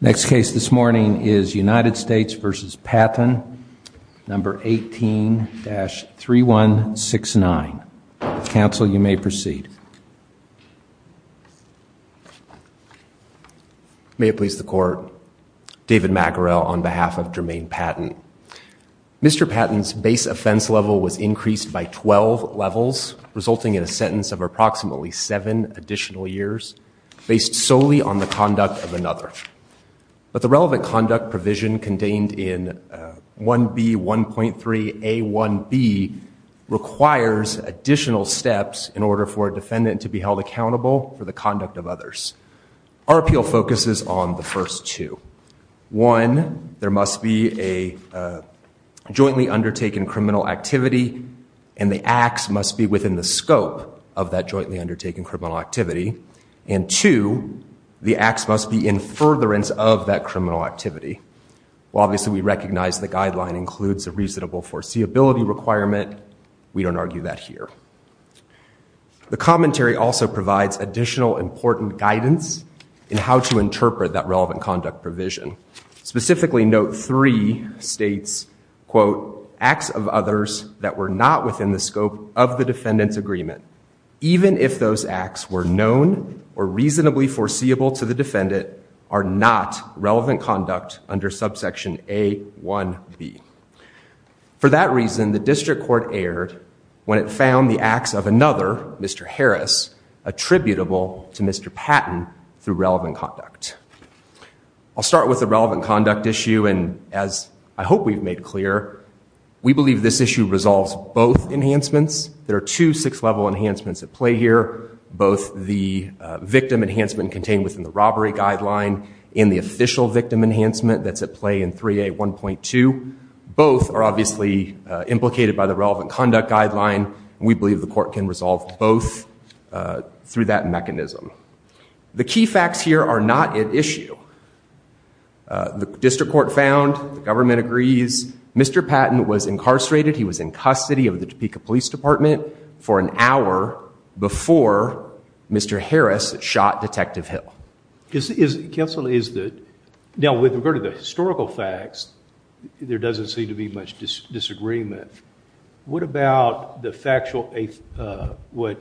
Next case this morning is United States v. Patton, number 18-3169. Counsel, you may proceed. May it please the court. David McArell on behalf of Jermaine Patton. Mr. Patton's base offense level was increased by 12 levels resulting in a sentence of approximately seven additional years based solely on the But the relevant conduct provision contained in 1B1.3A1B requires additional steps in order for a defendant to be held accountable for the conduct of others. Our appeal focuses on the first two. One, there must be a jointly undertaken criminal activity and the acts must be within the scope of that criminal activity. Well, obviously we recognize the guideline includes a reasonable foreseeability requirement. We don't argue that here. The commentary also provides additional important guidance in how to interpret that relevant conduct provision. Specifically, note three states, quote, acts of others that were not within the scope of the defendant's agreement, even if those acts were known or reasonably foreseeable to the defendant, are not relevant conduct under subsection A1B. For that reason, the district court erred when it found the acts of another, Mr. Harris, attributable to Mr. Patton through relevant conduct. I'll start with the relevant conduct issue and as I hope we've made clear, we believe this issue resolves both enhancements. There are two sixth level enhancements at play here. Both the victim enhancement contained within the robbery guideline and the official victim enhancement that's at play in 3A1.2. Both are obviously implicated by the relevant conduct guideline. We believe the court can resolve both through that mechanism. The key facts here are not at issue. The district court found, the government agrees, Mr. Patton was incarcerated. He was in custody of the Topeka Police Department for an hour before Mr. Harris shot Detective Hill. Counsel, is that, now with regard to the historical facts, there doesn't seem to be much disagreement. What about the factual, what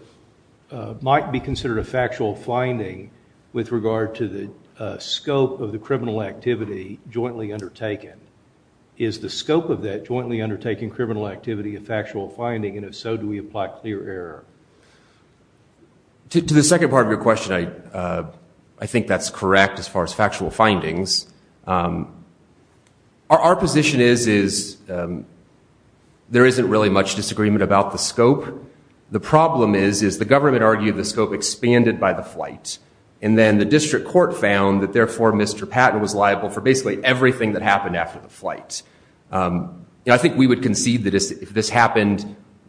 might be considered a factual finding with regard to the scope of the criminal activity jointly undertaken? Is the scope of that jointly undertaken criminal activity a factual finding and if so, do we apply clear error? To the second part of your question, I think that's correct as far as factual findings. Our position is is there isn't really much disagreement about the scope. The problem is, is the government argued the scope expanded by the flight and then the district court found that therefore Mr. Patton was liable for basically everything that happened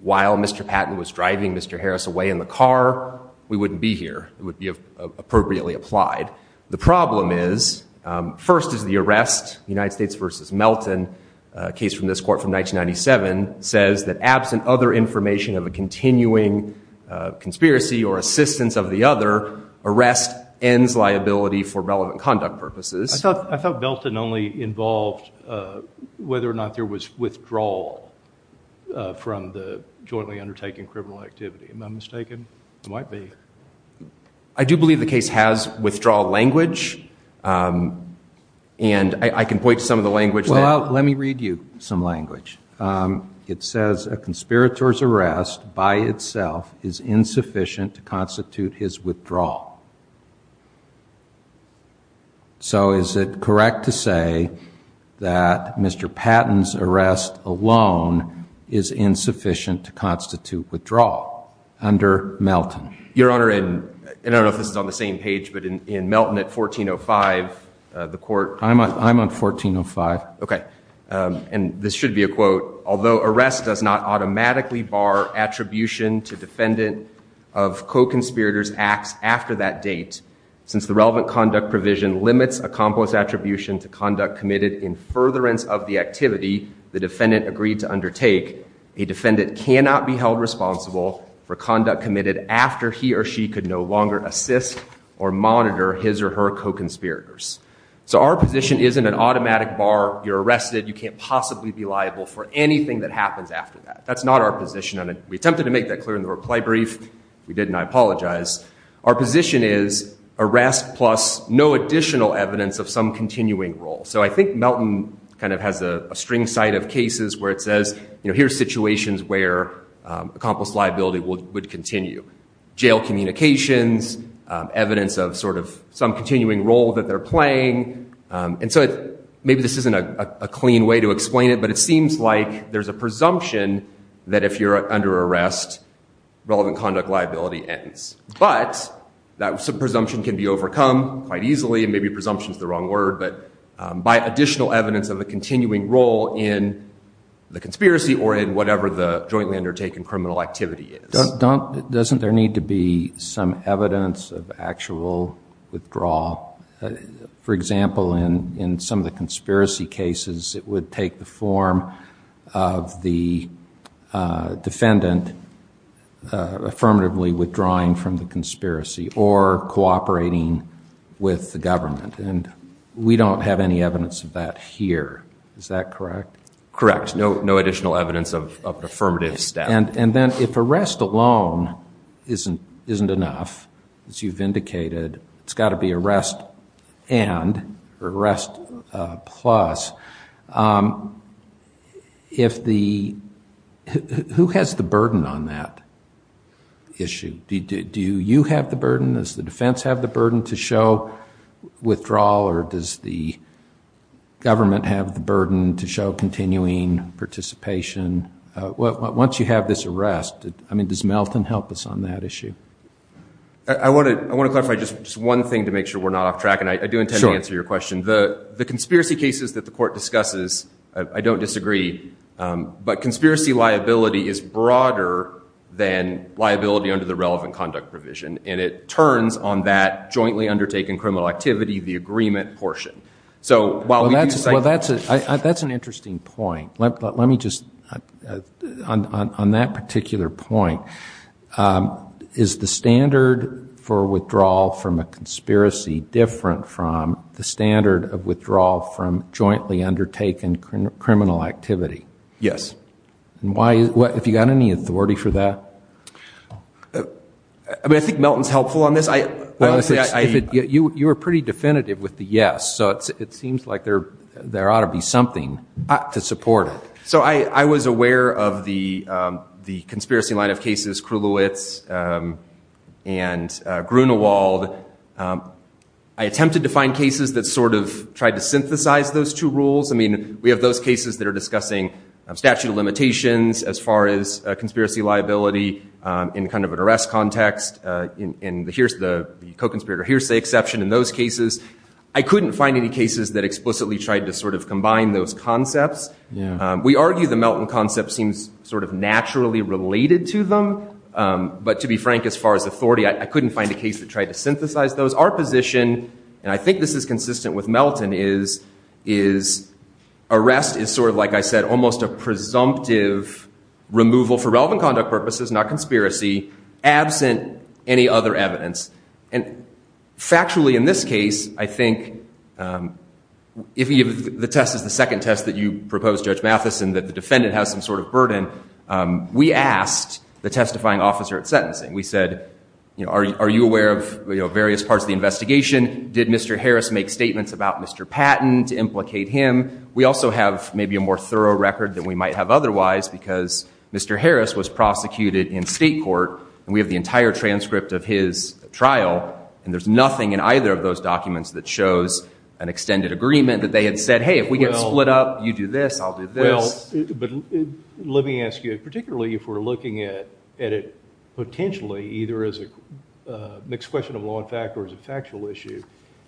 while Mr. Patton was driving Mr. Harris away in the car, we wouldn't be here. It would be appropriately applied. The problem is, first is the arrest, United States versus Melton, a case from this court from 1997, says that absent other information of a continuing conspiracy or assistance of the other, arrest ends liability for relevant conduct purposes. I thought Melton only involved whether or not there was withdrawal from the jointly undertaken criminal activity. Am I mistaken? Might be. I do believe the case has withdrawal language and I can point to some of the language. Well, let me read you some language. It says a conspirator's arrest by itself is insufficient to constitute his withdrawal. So is it correct to say that Mr. Patton's arrest alone is insufficient to constitute withdrawal under Melton? Your Honor, and I don't know if this is on the same page, but in Melton at 1405, the court... I'm on 1405. Okay, and this should be a quote, although arrest does not automatically bar attribution to defendant of co-conspirator's acts after that date, since the relevant conduct provision limits accomplice attribution to conduct committed in furtherance of the activity the defendant agreed to undertake, a defendant cannot be held responsible for conduct committed after he or she could no longer assist or monitor his or her co-conspirators. So our position isn't an automatic bar, you're arrested, you can't possibly be liable for anything that we attempted to make that clear in the reply brief, we didn't, I apologize. Our position is arrest plus no additional evidence of some continuing role. So I think Melton kind of has a string side of cases where it says, you know, here's situations where accomplice liability would continue. Jail communications, evidence of sort of some continuing role that they're playing, and so maybe this isn't a clean way to explain it, but it seems like there's a presumption that if you're under arrest, relevant conduct liability ends. But that presumption can be overcome quite easily, and maybe presumption is the wrong word, but by additional evidence of a continuing role in the conspiracy or in whatever the jointly undertaken criminal activity is. Doesn't there need to be some evidence of actual withdrawal? For example, in some of the conspiracy cases it would take the form of the defendant affirmatively withdrawing from the conspiracy or cooperating with the government, and we don't have any evidence of that here. Is that correct? Correct. No additional evidence of affirmative staff. And then if arrest alone isn't enough, as you've indicated, it's got to be arrest and, or arrest plus, if the, who has the burden on that issue? Do you have the burden? Does the defense have the burden to show withdrawal, or does the government have the burden to show continuing participation? Once you have this arrest, I mean, does Melton help us on that issue? I want to, I want to one thing to make sure we're not off track, and I do intend to answer your question. The conspiracy cases that the court discusses, I don't disagree, but conspiracy liability is broader than liability under the relevant conduct provision, and it turns on that jointly undertaken criminal activity, the agreement portion. So while that's, well that's a, that's an interesting point. Let me just, on that particular point, is the standard for withdrawal from a conspiracy different from the standard of withdrawal from jointly undertaken criminal activity? Yes. And why, what, have you got any authority for that? I mean, I think Melton's helpful on this. I, you were pretty definitive with the yes, so it seems like there, there ought to be something to support it. So I, I was I attempted to find cases that sort of tried to synthesize those two rules. I mean, we have those cases that are discussing statute of limitations as far as conspiracy liability in kind of an arrest context, and here's the co-conspirator hearsay exception in those cases. I couldn't find any cases that explicitly tried to sort of combine those concepts. We argue the Melton concept seems sort of naturally related to them, but to be frank, as far as authority, I couldn't find a case that tried to synthesize those. Our position, and I think this is consistent with Melton, is, is arrest is sort of, like I said, almost a presumptive removal for relevant conduct purposes, not conspiracy, absent any other evidence. And factually, in this case, I think, if the test is the second test that you propose, Judge Mathison, that the defendant has some sort of burden, we asked the testifying officer at sentencing. We said, you know, are you aware of, you know, various parts of the investigation? Did Mr. Harris make statements about Mr. Patton to implicate him? We also have maybe a more thorough record than we might have otherwise, because Mr. Harris was prosecuted in state court, and we have the entire transcript of his trial, and there's nothing in either of those documents that shows an extended agreement that they had said, hey, if we get split up, you do this, I'll do this. But let me ask you, particularly if we're looking at it potentially, either as a mixed question of law and fact, or as a factual issue,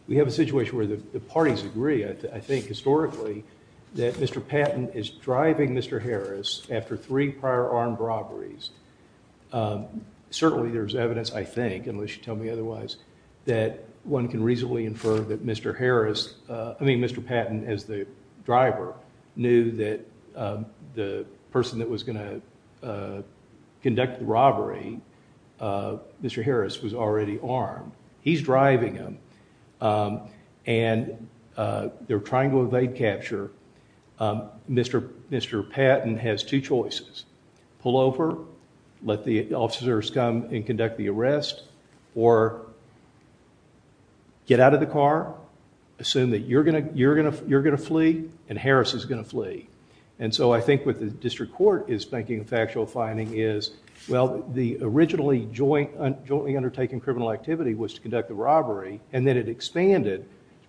we have a situation where the parties agree, I think, historically, that Mr. Patton is driving Mr. Harris after three prior armed robberies. Certainly there's evidence, I think, unless you tell me otherwise, that one can reasonably infer that Mr. Harris, I mean, Mr. Patton, as the driver, knew that the person that was going to conduct the robbery, Mr. Harris, was already armed. He's driving him, and they're trying to evade capture. Mr. Patton has two choices. Pull over, let the officers come and conduct the arrest, or get out of the car, assume that you're going to flee, and Harris is going to flee. And so I think what the district court is making a factual finding is, well, the originally jointly undertaken criminal activity was to conduct the robbery, and then it expanded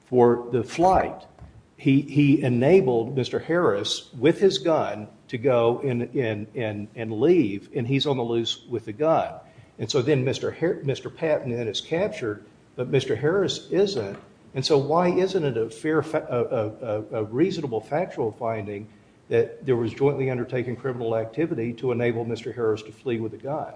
for the flight. He enabled Mr. Harris, with his and he's on the loose with the gun. And so then Mr. Patton is captured, but Mr. Harris isn't. And so why isn't it a reasonable factual finding that there was jointly undertaken criminal activity to enable Mr. Harris to flee with a gun?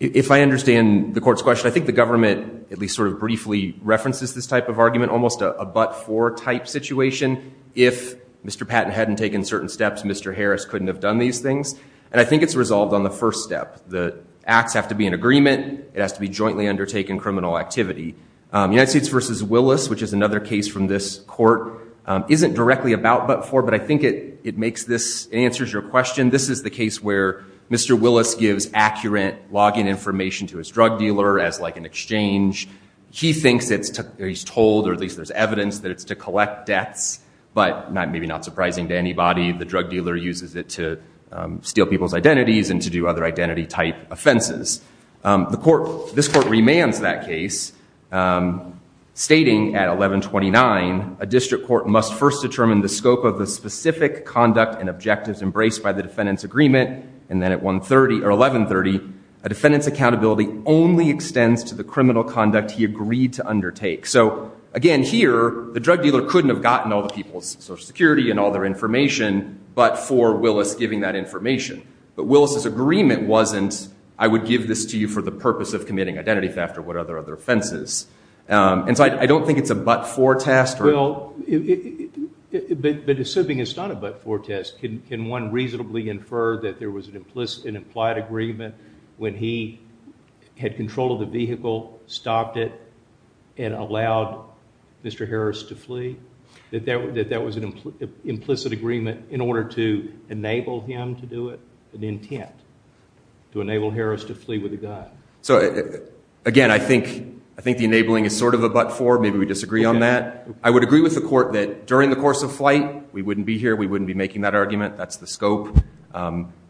If I understand the court's question, I think the government, at least sort of briefly, references this type of argument, almost a but-for type situation. If Mr. Patton hadn't taken certain steps, Mr. Harris couldn't have done these things. And I think it's resolved on the first step. The acts have to be in agreement, it has to be jointly undertaken criminal activity. United States v. Willis, which is another case from this court, isn't directly a bout but-for, but I think it it makes this, it answers your question. This is the case where Mr. Willis gives accurate login information to his drug dealer as like an exchange. He thinks it's, he's told, or at least there's evidence that it's to collect debts, but maybe not surprising to anybody, the drug dealer uses it to steal people's identities and to do other identity type offenses. The court, this court remands that case, stating at 1129, a district court must first determine the scope of the specific conduct and objectives embraced by the defendant's agreement, and then at 130, or 1130, a defendant's accountability only extends to the criminal conduct he agreed to undertake. So again here, the drug dealer couldn't have gotten all the people's Social Security and all their information, but for Willis giving that information. But Willis's agreement wasn't, I would give this to you for the purpose of committing identity theft or what other other offenses. And so I don't think it's a but-for test. Well, but assuming it's not a but-for test, can one reasonably infer that there was an implicit and implied agreement when he had control of the vehicle, stopped it, and allowed Mr. Harris to flee, that that was an implicit agreement in order to enable him to do it, an intent to enable Harris to flee with a gun? So again, I think, I think the enabling is sort of a but-for, maybe we disagree on that. I would agree with the court that during the course of flight, we wouldn't be here, we wouldn't be making that argument, that's the scope.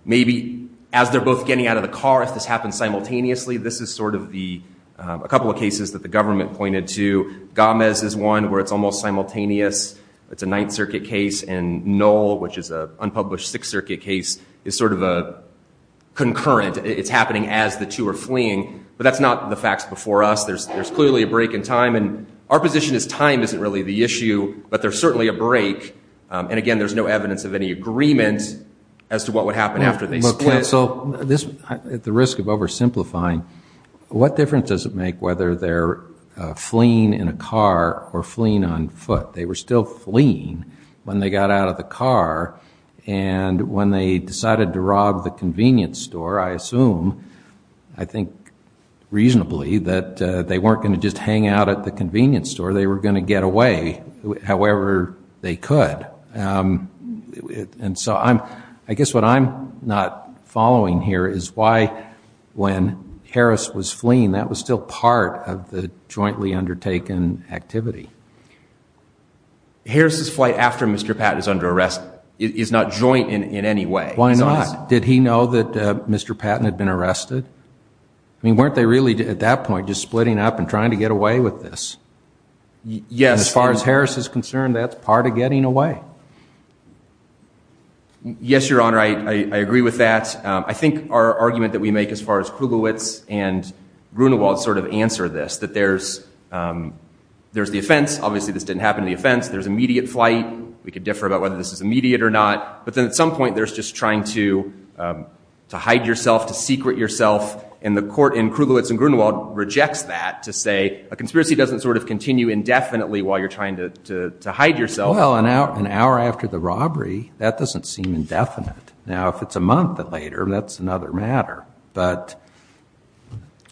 Maybe as they're both getting out of the car, if this happens simultaneously, this is sort of the, a couple of cases that the government pointed to. Gomez is one where it's almost simultaneous, it's a Ninth Circuit case, and Knoll, which is a unpublished Sixth Circuit case, is sort of a concurrent, it's happening as the two are fleeing, but that's not the facts before us. There's, there's clearly a break in time, and our position is time isn't really the issue, but there's certainly a break. And again, there's no evidence of any agreement as to what would happen after they split. So this, at risk of oversimplifying, what difference does it make whether they're fleeing in a car or fleeing on foot? They were still fleeing when they got out of the car, and when they decided to rob the convenience store, I assume, I think reasonably, that they weren't going to just hang out at the convenience store, they were going to get away however they could. And so I'm, I guess what I'm not following here is why, when Harris was fleeing, that was still part of the jointly undertaken activity. Harris's flight after Mr. Patton is under arrest is not joint in, in any way. Why not? Did he know that Mr. Patton had been arrested? I mean, weren't they really, at that point, just splitting up and trying to get away with this? Yes. As far as Harris is concerned, that's part of getting away. Yes, Your Honor, I think the argument that we make as far as Krugelwitz and Grunewald sort of answer this, that there's, there's the offense, obviously this didn't happen in the offense, there's immediate flight, we could differ about whether this is immediate or not, but then at some point there's just trying to, to hide yourself, to secret yourself, and the court in Krugelwitz and Grunewald rejects that to say a conspiracy doesn't sort of continue indefinitely while you're trying to, to hide yourself. Well, an hour, an hour after the robbery, that doesn't seem indefinite. Now, if it's a month later, that's another matter. But,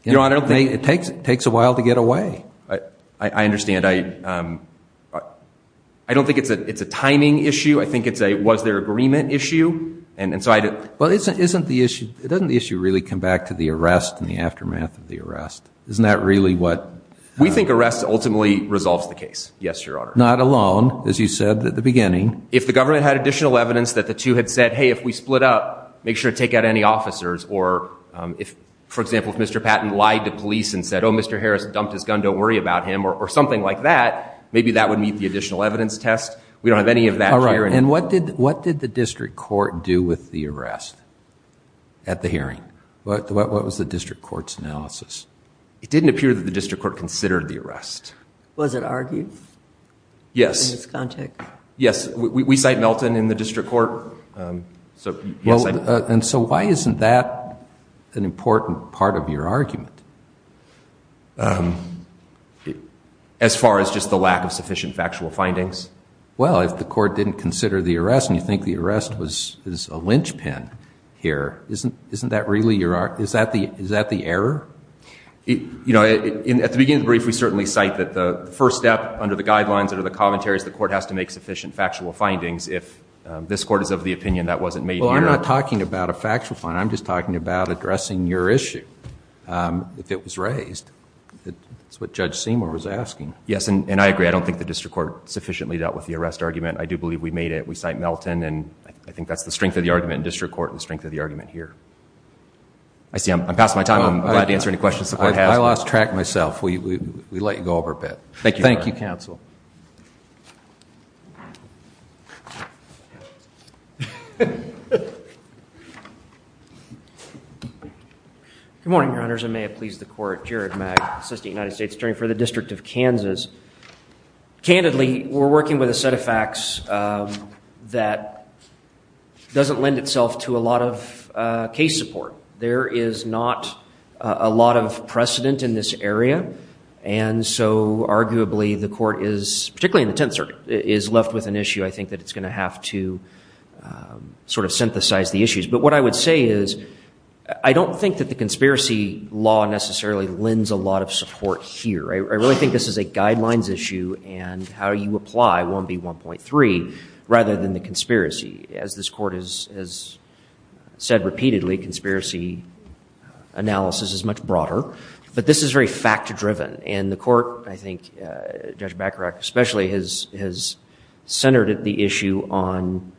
Your Honor, it takes, it takes a while to get away. I, I understand. I, I don't think it's a, it's a timing issue. I think it's a, was there agreement issue? And, and so I didn't. Well, isn't, isn't the issue, doesn't the issue really come back to the arrest and the aftermath of the arrest? Isn't that really what? We think arrest ultimately resolves the case. Yes, Your Honor. Not alone, as you said at the hearing, the two had said, hey, if we split up, make sure to take out any officers, or if, for example, if Mr. Patton lied to police and said, oh, Mr. Harris dumped his gun, don't worry about him, or something like that, maybe that would meet the additional evidence test. We don't have any of that here. And what did, what did the district court do with the arrest at the hearing? What, what was the district court's analysis? It didn't appear that the district court considered the arrest. Was it argued? Yes. In this context. Yes, we, we cite Melton in the district court, so. Well, and so why isn't that an important part of your argument? As far as just the lack of sufficient factual findings. Well, if the court didn't consider the arrest and you think the arrest was, is a linchpin here, isn't, isn't that really your, is that the, is that the error? You know, at the beginning of the brief, we certainly cite that the first step under the guidelines, under the commentaries, the court has to make sufficient factual findings if this court is of the opinion that wasn't made here. Well, I'm not talking about a factual finding. I'm just talking about addressing your issue. If it was raised, that's what Judge Seymour was asking. Yes, and I agree. I don't think the district court sufficiently dealt with the arrest argument. I do believe we made it. We cite Melton, and I think that's the strength of the argument in district court and the strength of the argument here. I see I'm, I'm past my time. I'm glad to answer any questions the court has. I lost track of myself. We, we, we let you go over a bit. Thank you. Thank you, counsel. Good morning, your honors. I may have pleased the court. Jared Magg, assistant to the United States Attorney for the District of Kansas. Candidly, we're working with a set of facts that doesn't lend itself to a lot of case support. There is not a lot of precedent in this area, and so arguably the court is, particularly in the Tenth Circuit, is left with an issue. I think that it's going to have to sort of synthesize the issues. But what I would say is I don't think that the conspiracy law necessarily lends a lot of support here. I, I really think this is a guidelines issue and how you apply 1B1.3 rather than the conspiracy. As this court has, has said repeatedly, conspiracy analysis is much broader, but this is very fact-driven. And the court, I think Judge Bacharach especially, has centered the issue on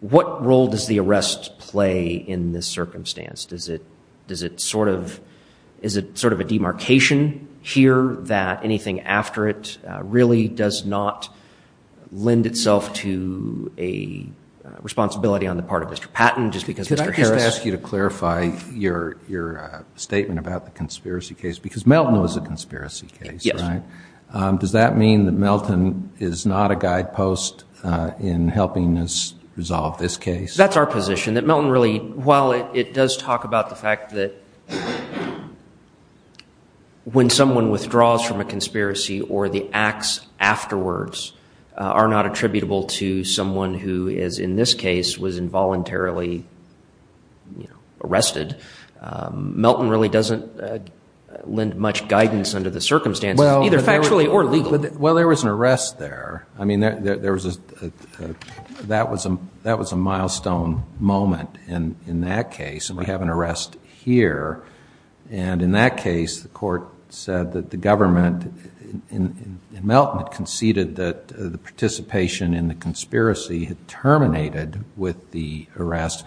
what role does the arrest play in this circumstance? Does it, does it sort of, is it sort of a demarcation here that anything after it really does not lend itself to a responsibility on the part of Mr. Patton just because Mr. Harris Let me just ask you to clarify your, your statement about the conspiracy case, because Melton was a conspiracy case, right? Does that mean that Melton is not a guidepost in helping us resolve this case? That's our position, that Melton really, while it does talk about the fact that when someone withdraws from a conspiracy or the acts afterwards are not attributable to someone who is, in this case, was involuntarily, you know, arrested, Melton really doesn't lend much guidance under the circumstances, either factually or legally. Well, there was an arrest there. I mean, there, there was a, that was a, that was a milestone moment in, in that case, and we have an arrest here. And in that case, the court said that the government in, in, in Melton had conceded that the participation in the conspiracy had terminated with the arrest.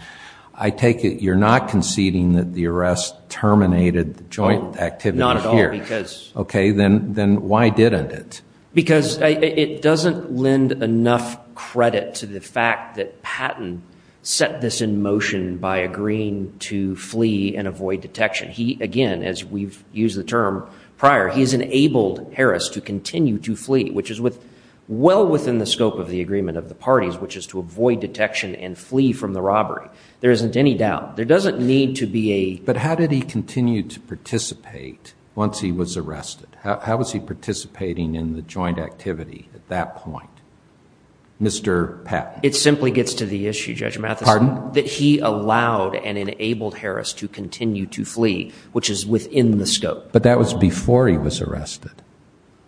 I take it you're not conceding that the arrest terminated the joint activity here. Not at all, because Okay, then, then why didn't it? Because it doesn't lend enough credit to the fact that Patton set this in motion by agreeing to flee and avoid detection. He, again, as we've used the term prior, he's enabled Harris to continue to flee, which is with, well within the scope of the agreement of the parties, which is to avoid detection and flee from the robbery. There isn't any doubt. There doesn't need to be a But how did he continue to participate once he was arrested? How, how was he participating in the joint activity at that point? Mr. Patton? It simply gets to the issue, Judge Mathison. Pardon? That he allowed and enabled Harris to continue to flee, which is within the scope. But that was before he was arrested.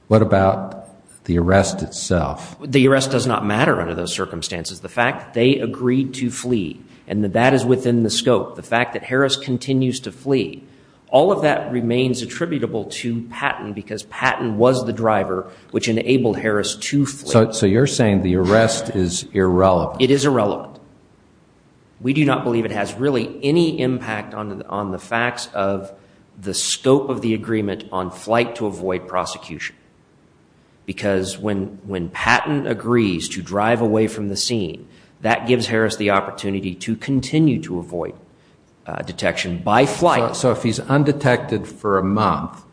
What about the arrest itself? The arrest does not matter under those circumstances. The fact they agreed to flee and that that is within the scope, the fact that Harris continues to flee, all of that remains attributable to Patton because Patton was the driver which enabled Harris to flee. So, so you're saying the arrest is irrelevant. It is irrelevant. We do not believe it has really any impact on the, on the facts of the scope of the agreement on flight to avoid prosecution. Because when, when Patton agrees to drive away from the scene, that gives Harris the opportunity to continue to avoid detection by flight. So if he's undetected for a month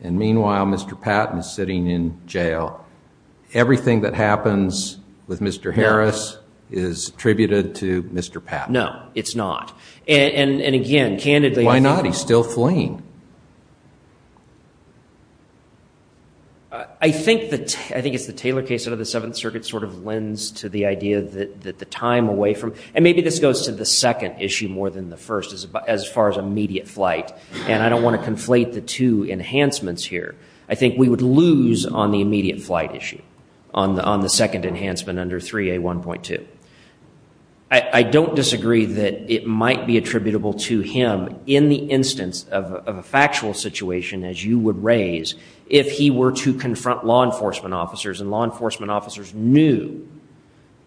and meanwhile, Mr. Patton is sitting in jail, everything that happens with Mr. Harris is attributed to Mr. Patton. No, it's not. And again, candidly, Why not? He's still fleeing. I think that, I think it's the Taylor case out of the Seventh Circuit sort of lends to the idea that the time away from, and maybe this goes to the second issue more than the first as far as immediate flight. And I don't want to conflate the two enhancements here. I think we would lose on the immediate flight issue on the, on the second enhancement under 3A1.2. I don't disagree that it might be attributable to him in the instance of a factual situation as you would raise, if he were to confront law enforcement officers and law enforcement officers knew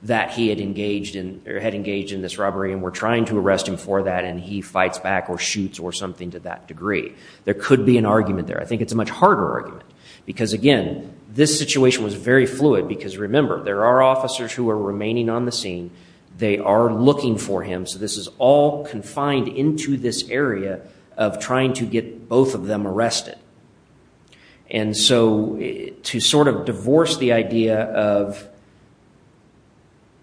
that he had engaged in or had engaged in this robbery and were trying to arrest him for that. And he fights back or shoots or something to that degree. There could be an argument there. I think it's a much harder argument because again, this situation was very fluid because remember, there are officers who are remaining on the scene. They are looking for him. So this is all confined into this area of trying to get both of them arrested. And so to sort of divorce the idea of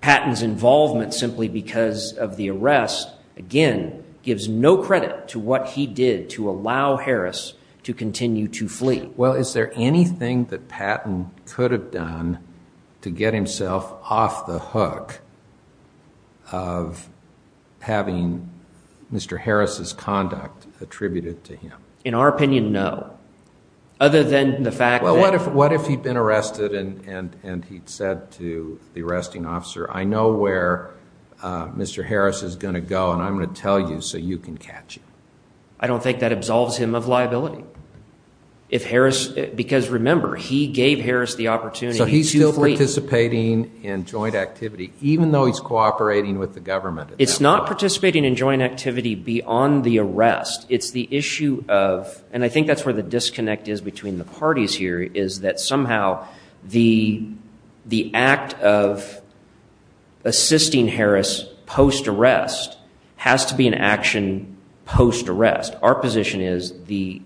Patton's involvement simply because of the arrest, again, gives no credit to what he did to allow Harris to continue to flee. Well, is there anything that Patton could have done to get himself off the hook of having Mr. Harris's conduct attributed to him? In our opinion, no. Other than the fact that... Well, what if, what if he'd been arrested and he'd said to the arresting officer, I know where Mr. Harris is going to go and I'm going to tell you so you can catch him? I don't think that absolves him of liability. If Harris, because remember, he gave Harris the opportunity to flee. So he's still participating in joint activity even though he's cooperating with the government at that point? It's not participating in joint activity beyond the arrest. It's the issue of, and I think that's where the disconnect is between the parties here, is that somehow the act of assisting Harris post-arrest has to be an action post-arrest. Our position is the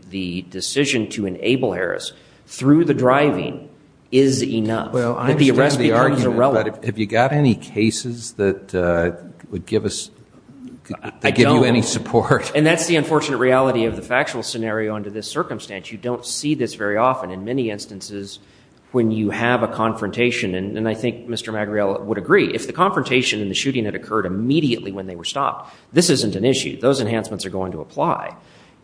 decision to enable Harris through the driving is enough that the arrest becomes irrelevant. Well, I understand the argument, but have you got any cases that would give us, that give you any support? And that's the unfortunate reality of the factual scenario under this circumstance. You don't see this very often. In many instances, when you have a confrontation, and I think Mr. Magriel would agree, if the confrontation and the shooting had occurred immediately when they were stopped, this isn't an issue. Those enhancements are going to apply.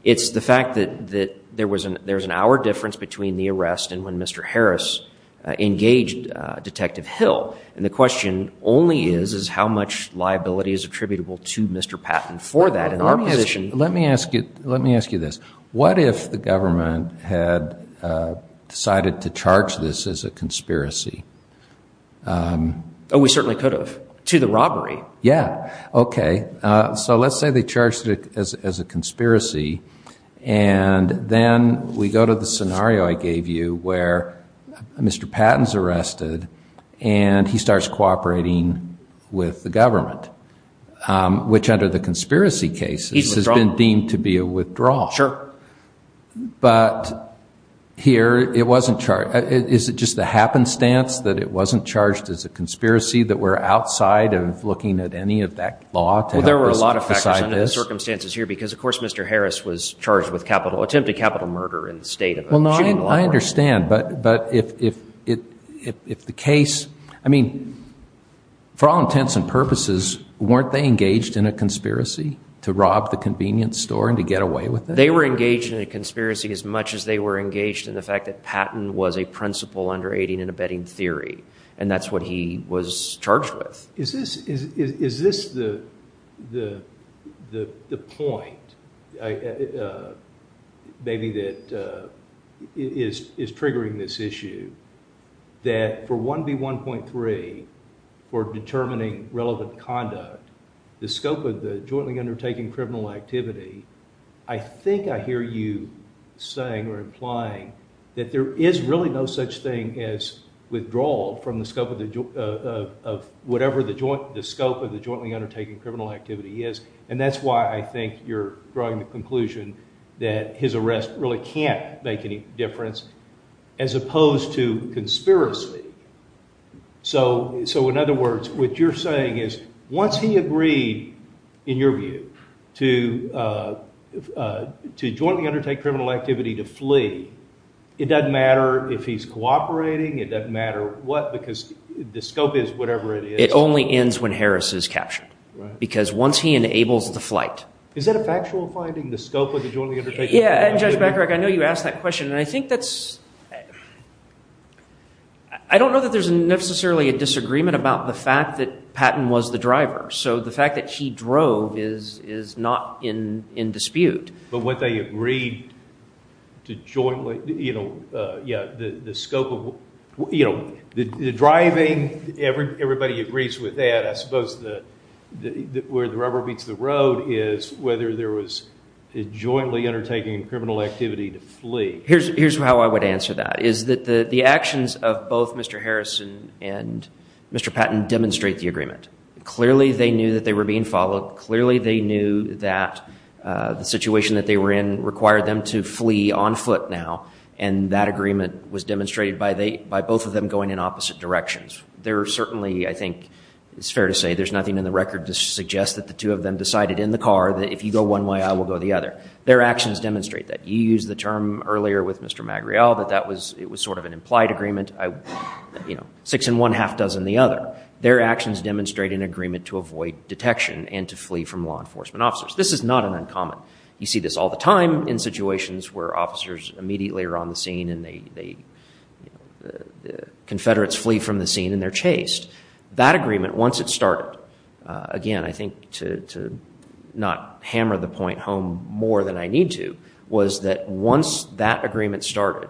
It's the fact that there was an hour difference between the arrest and when Mr. Harris engaged Detective Hill. And the question only is, is how much liability is attributable to Mr. Patton for that? Let me ask you this. What if the government had decided to charge this as a conspiracy? Oh, we certainly could have. To the robbery. Yeah. Okay. So let's say they charged it as a conspiracy, and then we go to the scenario I gave you where Mr. Patton's arrested, and he starts cooperating with the government, which under the conspiracy cases has been deemed to be a withdrawal. Sure. But here, it wasn't charged. Is it just a happenstance that it wasn't charged as a conspiracy, that we're outside of looking at any of that law to help us decide this? Well, there were a lot of factors under the circumstances here because, of course, Mr. Harris was charged with capital, attempted capital murder in the state of a shooting law firm. I understand. But if the case, I mean, for all intents and purposes, weren't they engaged in a conspiracy to rob the convenience store and to get away with it? They were engaged in a conspiracy as much as they were engaged in the fact that Patton was a principal under aiding and abetting theory. And that's what he was charged with. Is this the point, maybe, that is triggering this issue, that for 1B1.3, for determining relevant conduct, the scope of the jointly undertaking criminal activity, I think I hear you saying or implying that there is really no such thing as withdrawal from the scope of whatever the scope of the jointly undertaking criminal activity is. And that's why I think you're drawing the conclusion that his arrest really can't make any difference as opposed to conspiracy. So, in other words, what you're saying is once he agreed, in your view, to jointly undertake criminal activity to flee, it doesn't matter if he's cooperating. It doesn't matter what, because the scope is whatever it is. It only ends when Harris is captured. Because once he enables the flight. Is that a factual finding, the scope of the jointly undertaking? Yeah, and Judge Becker, I know you asked that question. And I think that's, I don't know that there's necessarily a disagreement about the fact that Patton was the driver. So the fact that he drove is not in dispute. But what they agreed to jointly, you know, yeah, the scope of, you know, the driving, everybody agrees with that. I suppose where the rubber meets the road is whether there was jointly undertaking criminal activity to flee. Here's how I would answer that, is that the actions of both Mr. Harris and Mr. Patton demonstrate the agreement. Clearly, they knew that they were being followed. Clearly, they knew that the situation that they were in required them to flee on foot now. And that agreement was demonstrated by both of them going in opposite directions. There are certainly, I think it's fair to say, there's nothing in the record to suggest that the two of them decided in the car that if you go one way, I will go the other. Their actions demonstrate that. You used the term earlier with Mr. Magriel that that was, it was sort of an implied agreement. You know, six in one, half dozen the other. Their actions demonstrate an agreement to avoid detection and to flee from enforcement officers. This is not an uncommon. You see this all the time in situations where officers immediately are on the scene and they, you know, the Confederates flee from the scene and they're chased. That agreement, once it started, again, I think to not hammer the point home more than I need to, was that once that agreement started,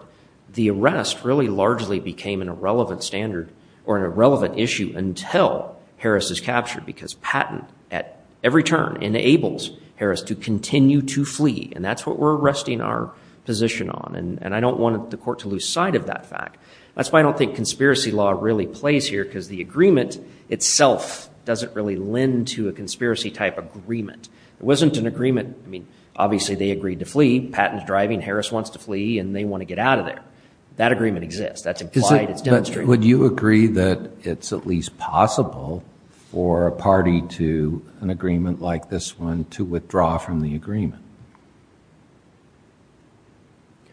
the arrest really largely became an irrelevant standard or an irrelevant issue until Harris is captured because Patton at every turn enables Harris to continue to flee. And that's what we're resting our position on. And I don't want the court to lose sight of that fact. That's why I don't think conspiracy law really plays here because the agreement itself doesn't really lend to a conspiracy type agreement. It wasn't an agreement. I mean, obviously they agreed to flee. Patton's driving. Harris wants to flee and they want to get out of there. That agreement exists. That's implied. It's demonstrated. Would you agree that it's at least possible for a party to an agreement like this one to withdraw from the agreement?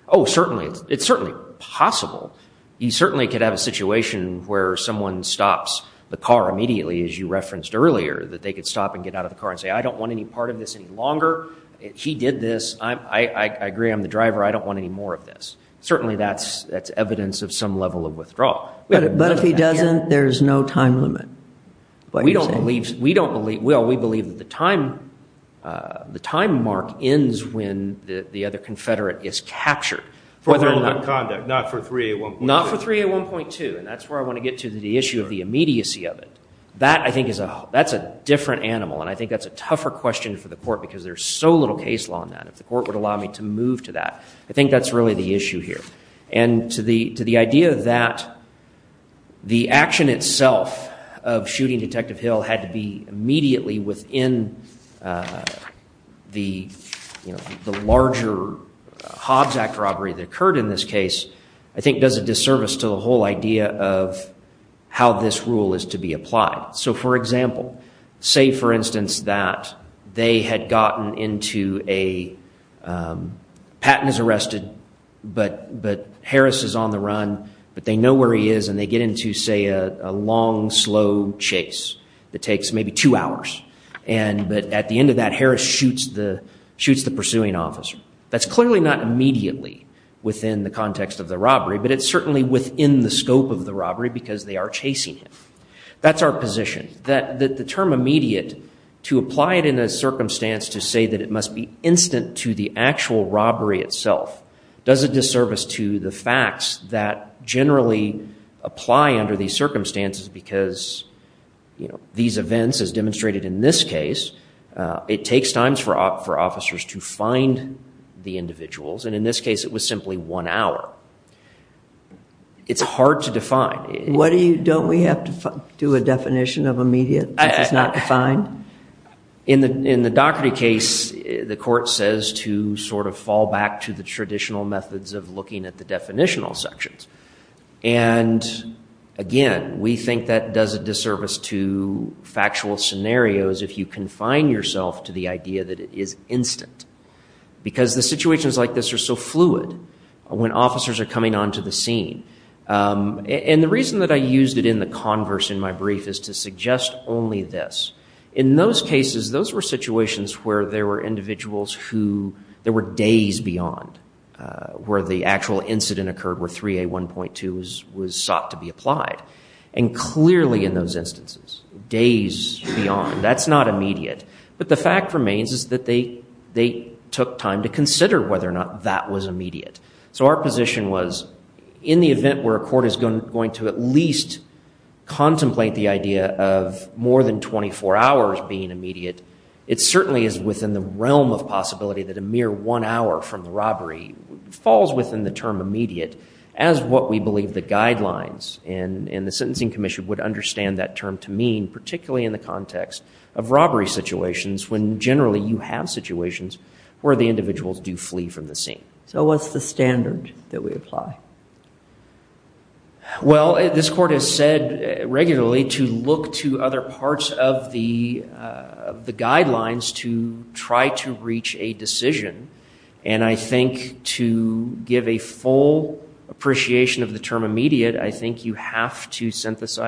Oh, certainly. It's certainly possible. You certainly could have a situation where someone stops the car immediately, as you referenced earlier, that they could stop and get out of the car and say, I don't want any part of this any longer. He did this. I agree. I'm the driver. I don't want any more of this. Certainly that's evidence of some level of But if he doesn't, there's no time limit. We don't believe, Will, we believe that the time mark ends when the other confederate is captured. For hold and conduct, not for 3A1.2. Not for 3A1.2. And that's where I want to get to the issue of the immediacy of it. That, I think, is a different animal. And I think that's a tougher question for the court because there's so little case law on that. If the court would allow me to move to that, I think that's really the The action itself of shooting Detective Hill had to be immediately within the larger Hobbs Act robbery that occurred in this case, I think, does a disservice to the whole idea of how this rule is to be applied. So, for example, say, for instance, that they had gotten into a, Patton is arrested, but Harris is on the run, but they know where he is, and they get into, say, a long, slow chase that takes maybe two hours. But at the end of that, Harris shoots the pursuing officer. That's clearly not immediately within the context of the robbery, but it's certainly within the scope of the robbery because they are chasing him. That's our position. The term immediate, to apply it in a circumstance to say that it must be instant to the actual robbery itself, does a disservice to the facts that generally apply under these circumstances because these events, as demonstrated in this case, it takes times for officers to find the individuals. And in this case, it was simply one hour. It's hard to define. What do you, don't we have to do a definition of immediate if it's not defined? In the Doherty case, the court says to sort of fall back to the traditional methods of looking at the definitional sections. And again, we think that does a disservice to factual scenarios if you confine yourself to the idea that it is instant because the situations like this are so fluid when officers are coming onto the scene. And the reason that I used it in the converse in my brief is to suggest only this. In those cases, those were situations where there were individuals who, there were days beyond where the actual incident occurred where 3A1.2 was sought to be applied. And clearly in those instances, days beyond, that's not immediate. But the fact remains is that they took time to consider whether or not that was immediate. So our position was, in the event where a court is going to at least contemplate the idea of more than 24 hours being immediate, it certainly is within the realm of possibility that a mere one hour from the robbery falls within the term immediate as what we believe the guidelines and the Sentencing Commission would understand that term to mean, particularly in the context of robbery situations when generally you have situations where the individuals do flee from the scene. So what's the standard that we apply? Well, this court has said regularly to look to other parts of the guidelines to try to reach a decision. And I think to give a full appreciation of the term immediate, I think you have to immediate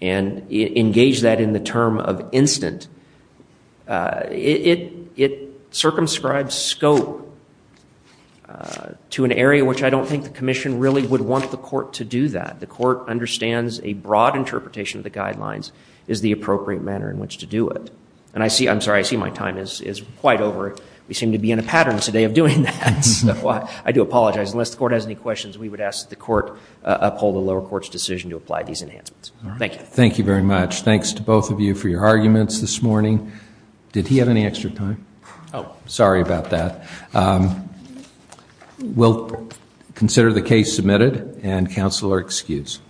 and engage that in the term of instant. It circumscribes scope to an area which I don't think the Commission really would want the court to do that. The court understands a broad interpretation of the guidelines is the appropriate manner in which to do it. And I see, I'm sorry, I see my time is quite over. We seem to be in a pattern today of doing that. So I do apologize. Unless the court has any questions, we would ask that the court uphold the lower court's decision to apply these enhancements. Thank you. Thank you very much. Thanks to both of you for your arguments this morning. Did he have any extra time? Oh, sorry about that. We'll consider the case submitted and counsel are excused.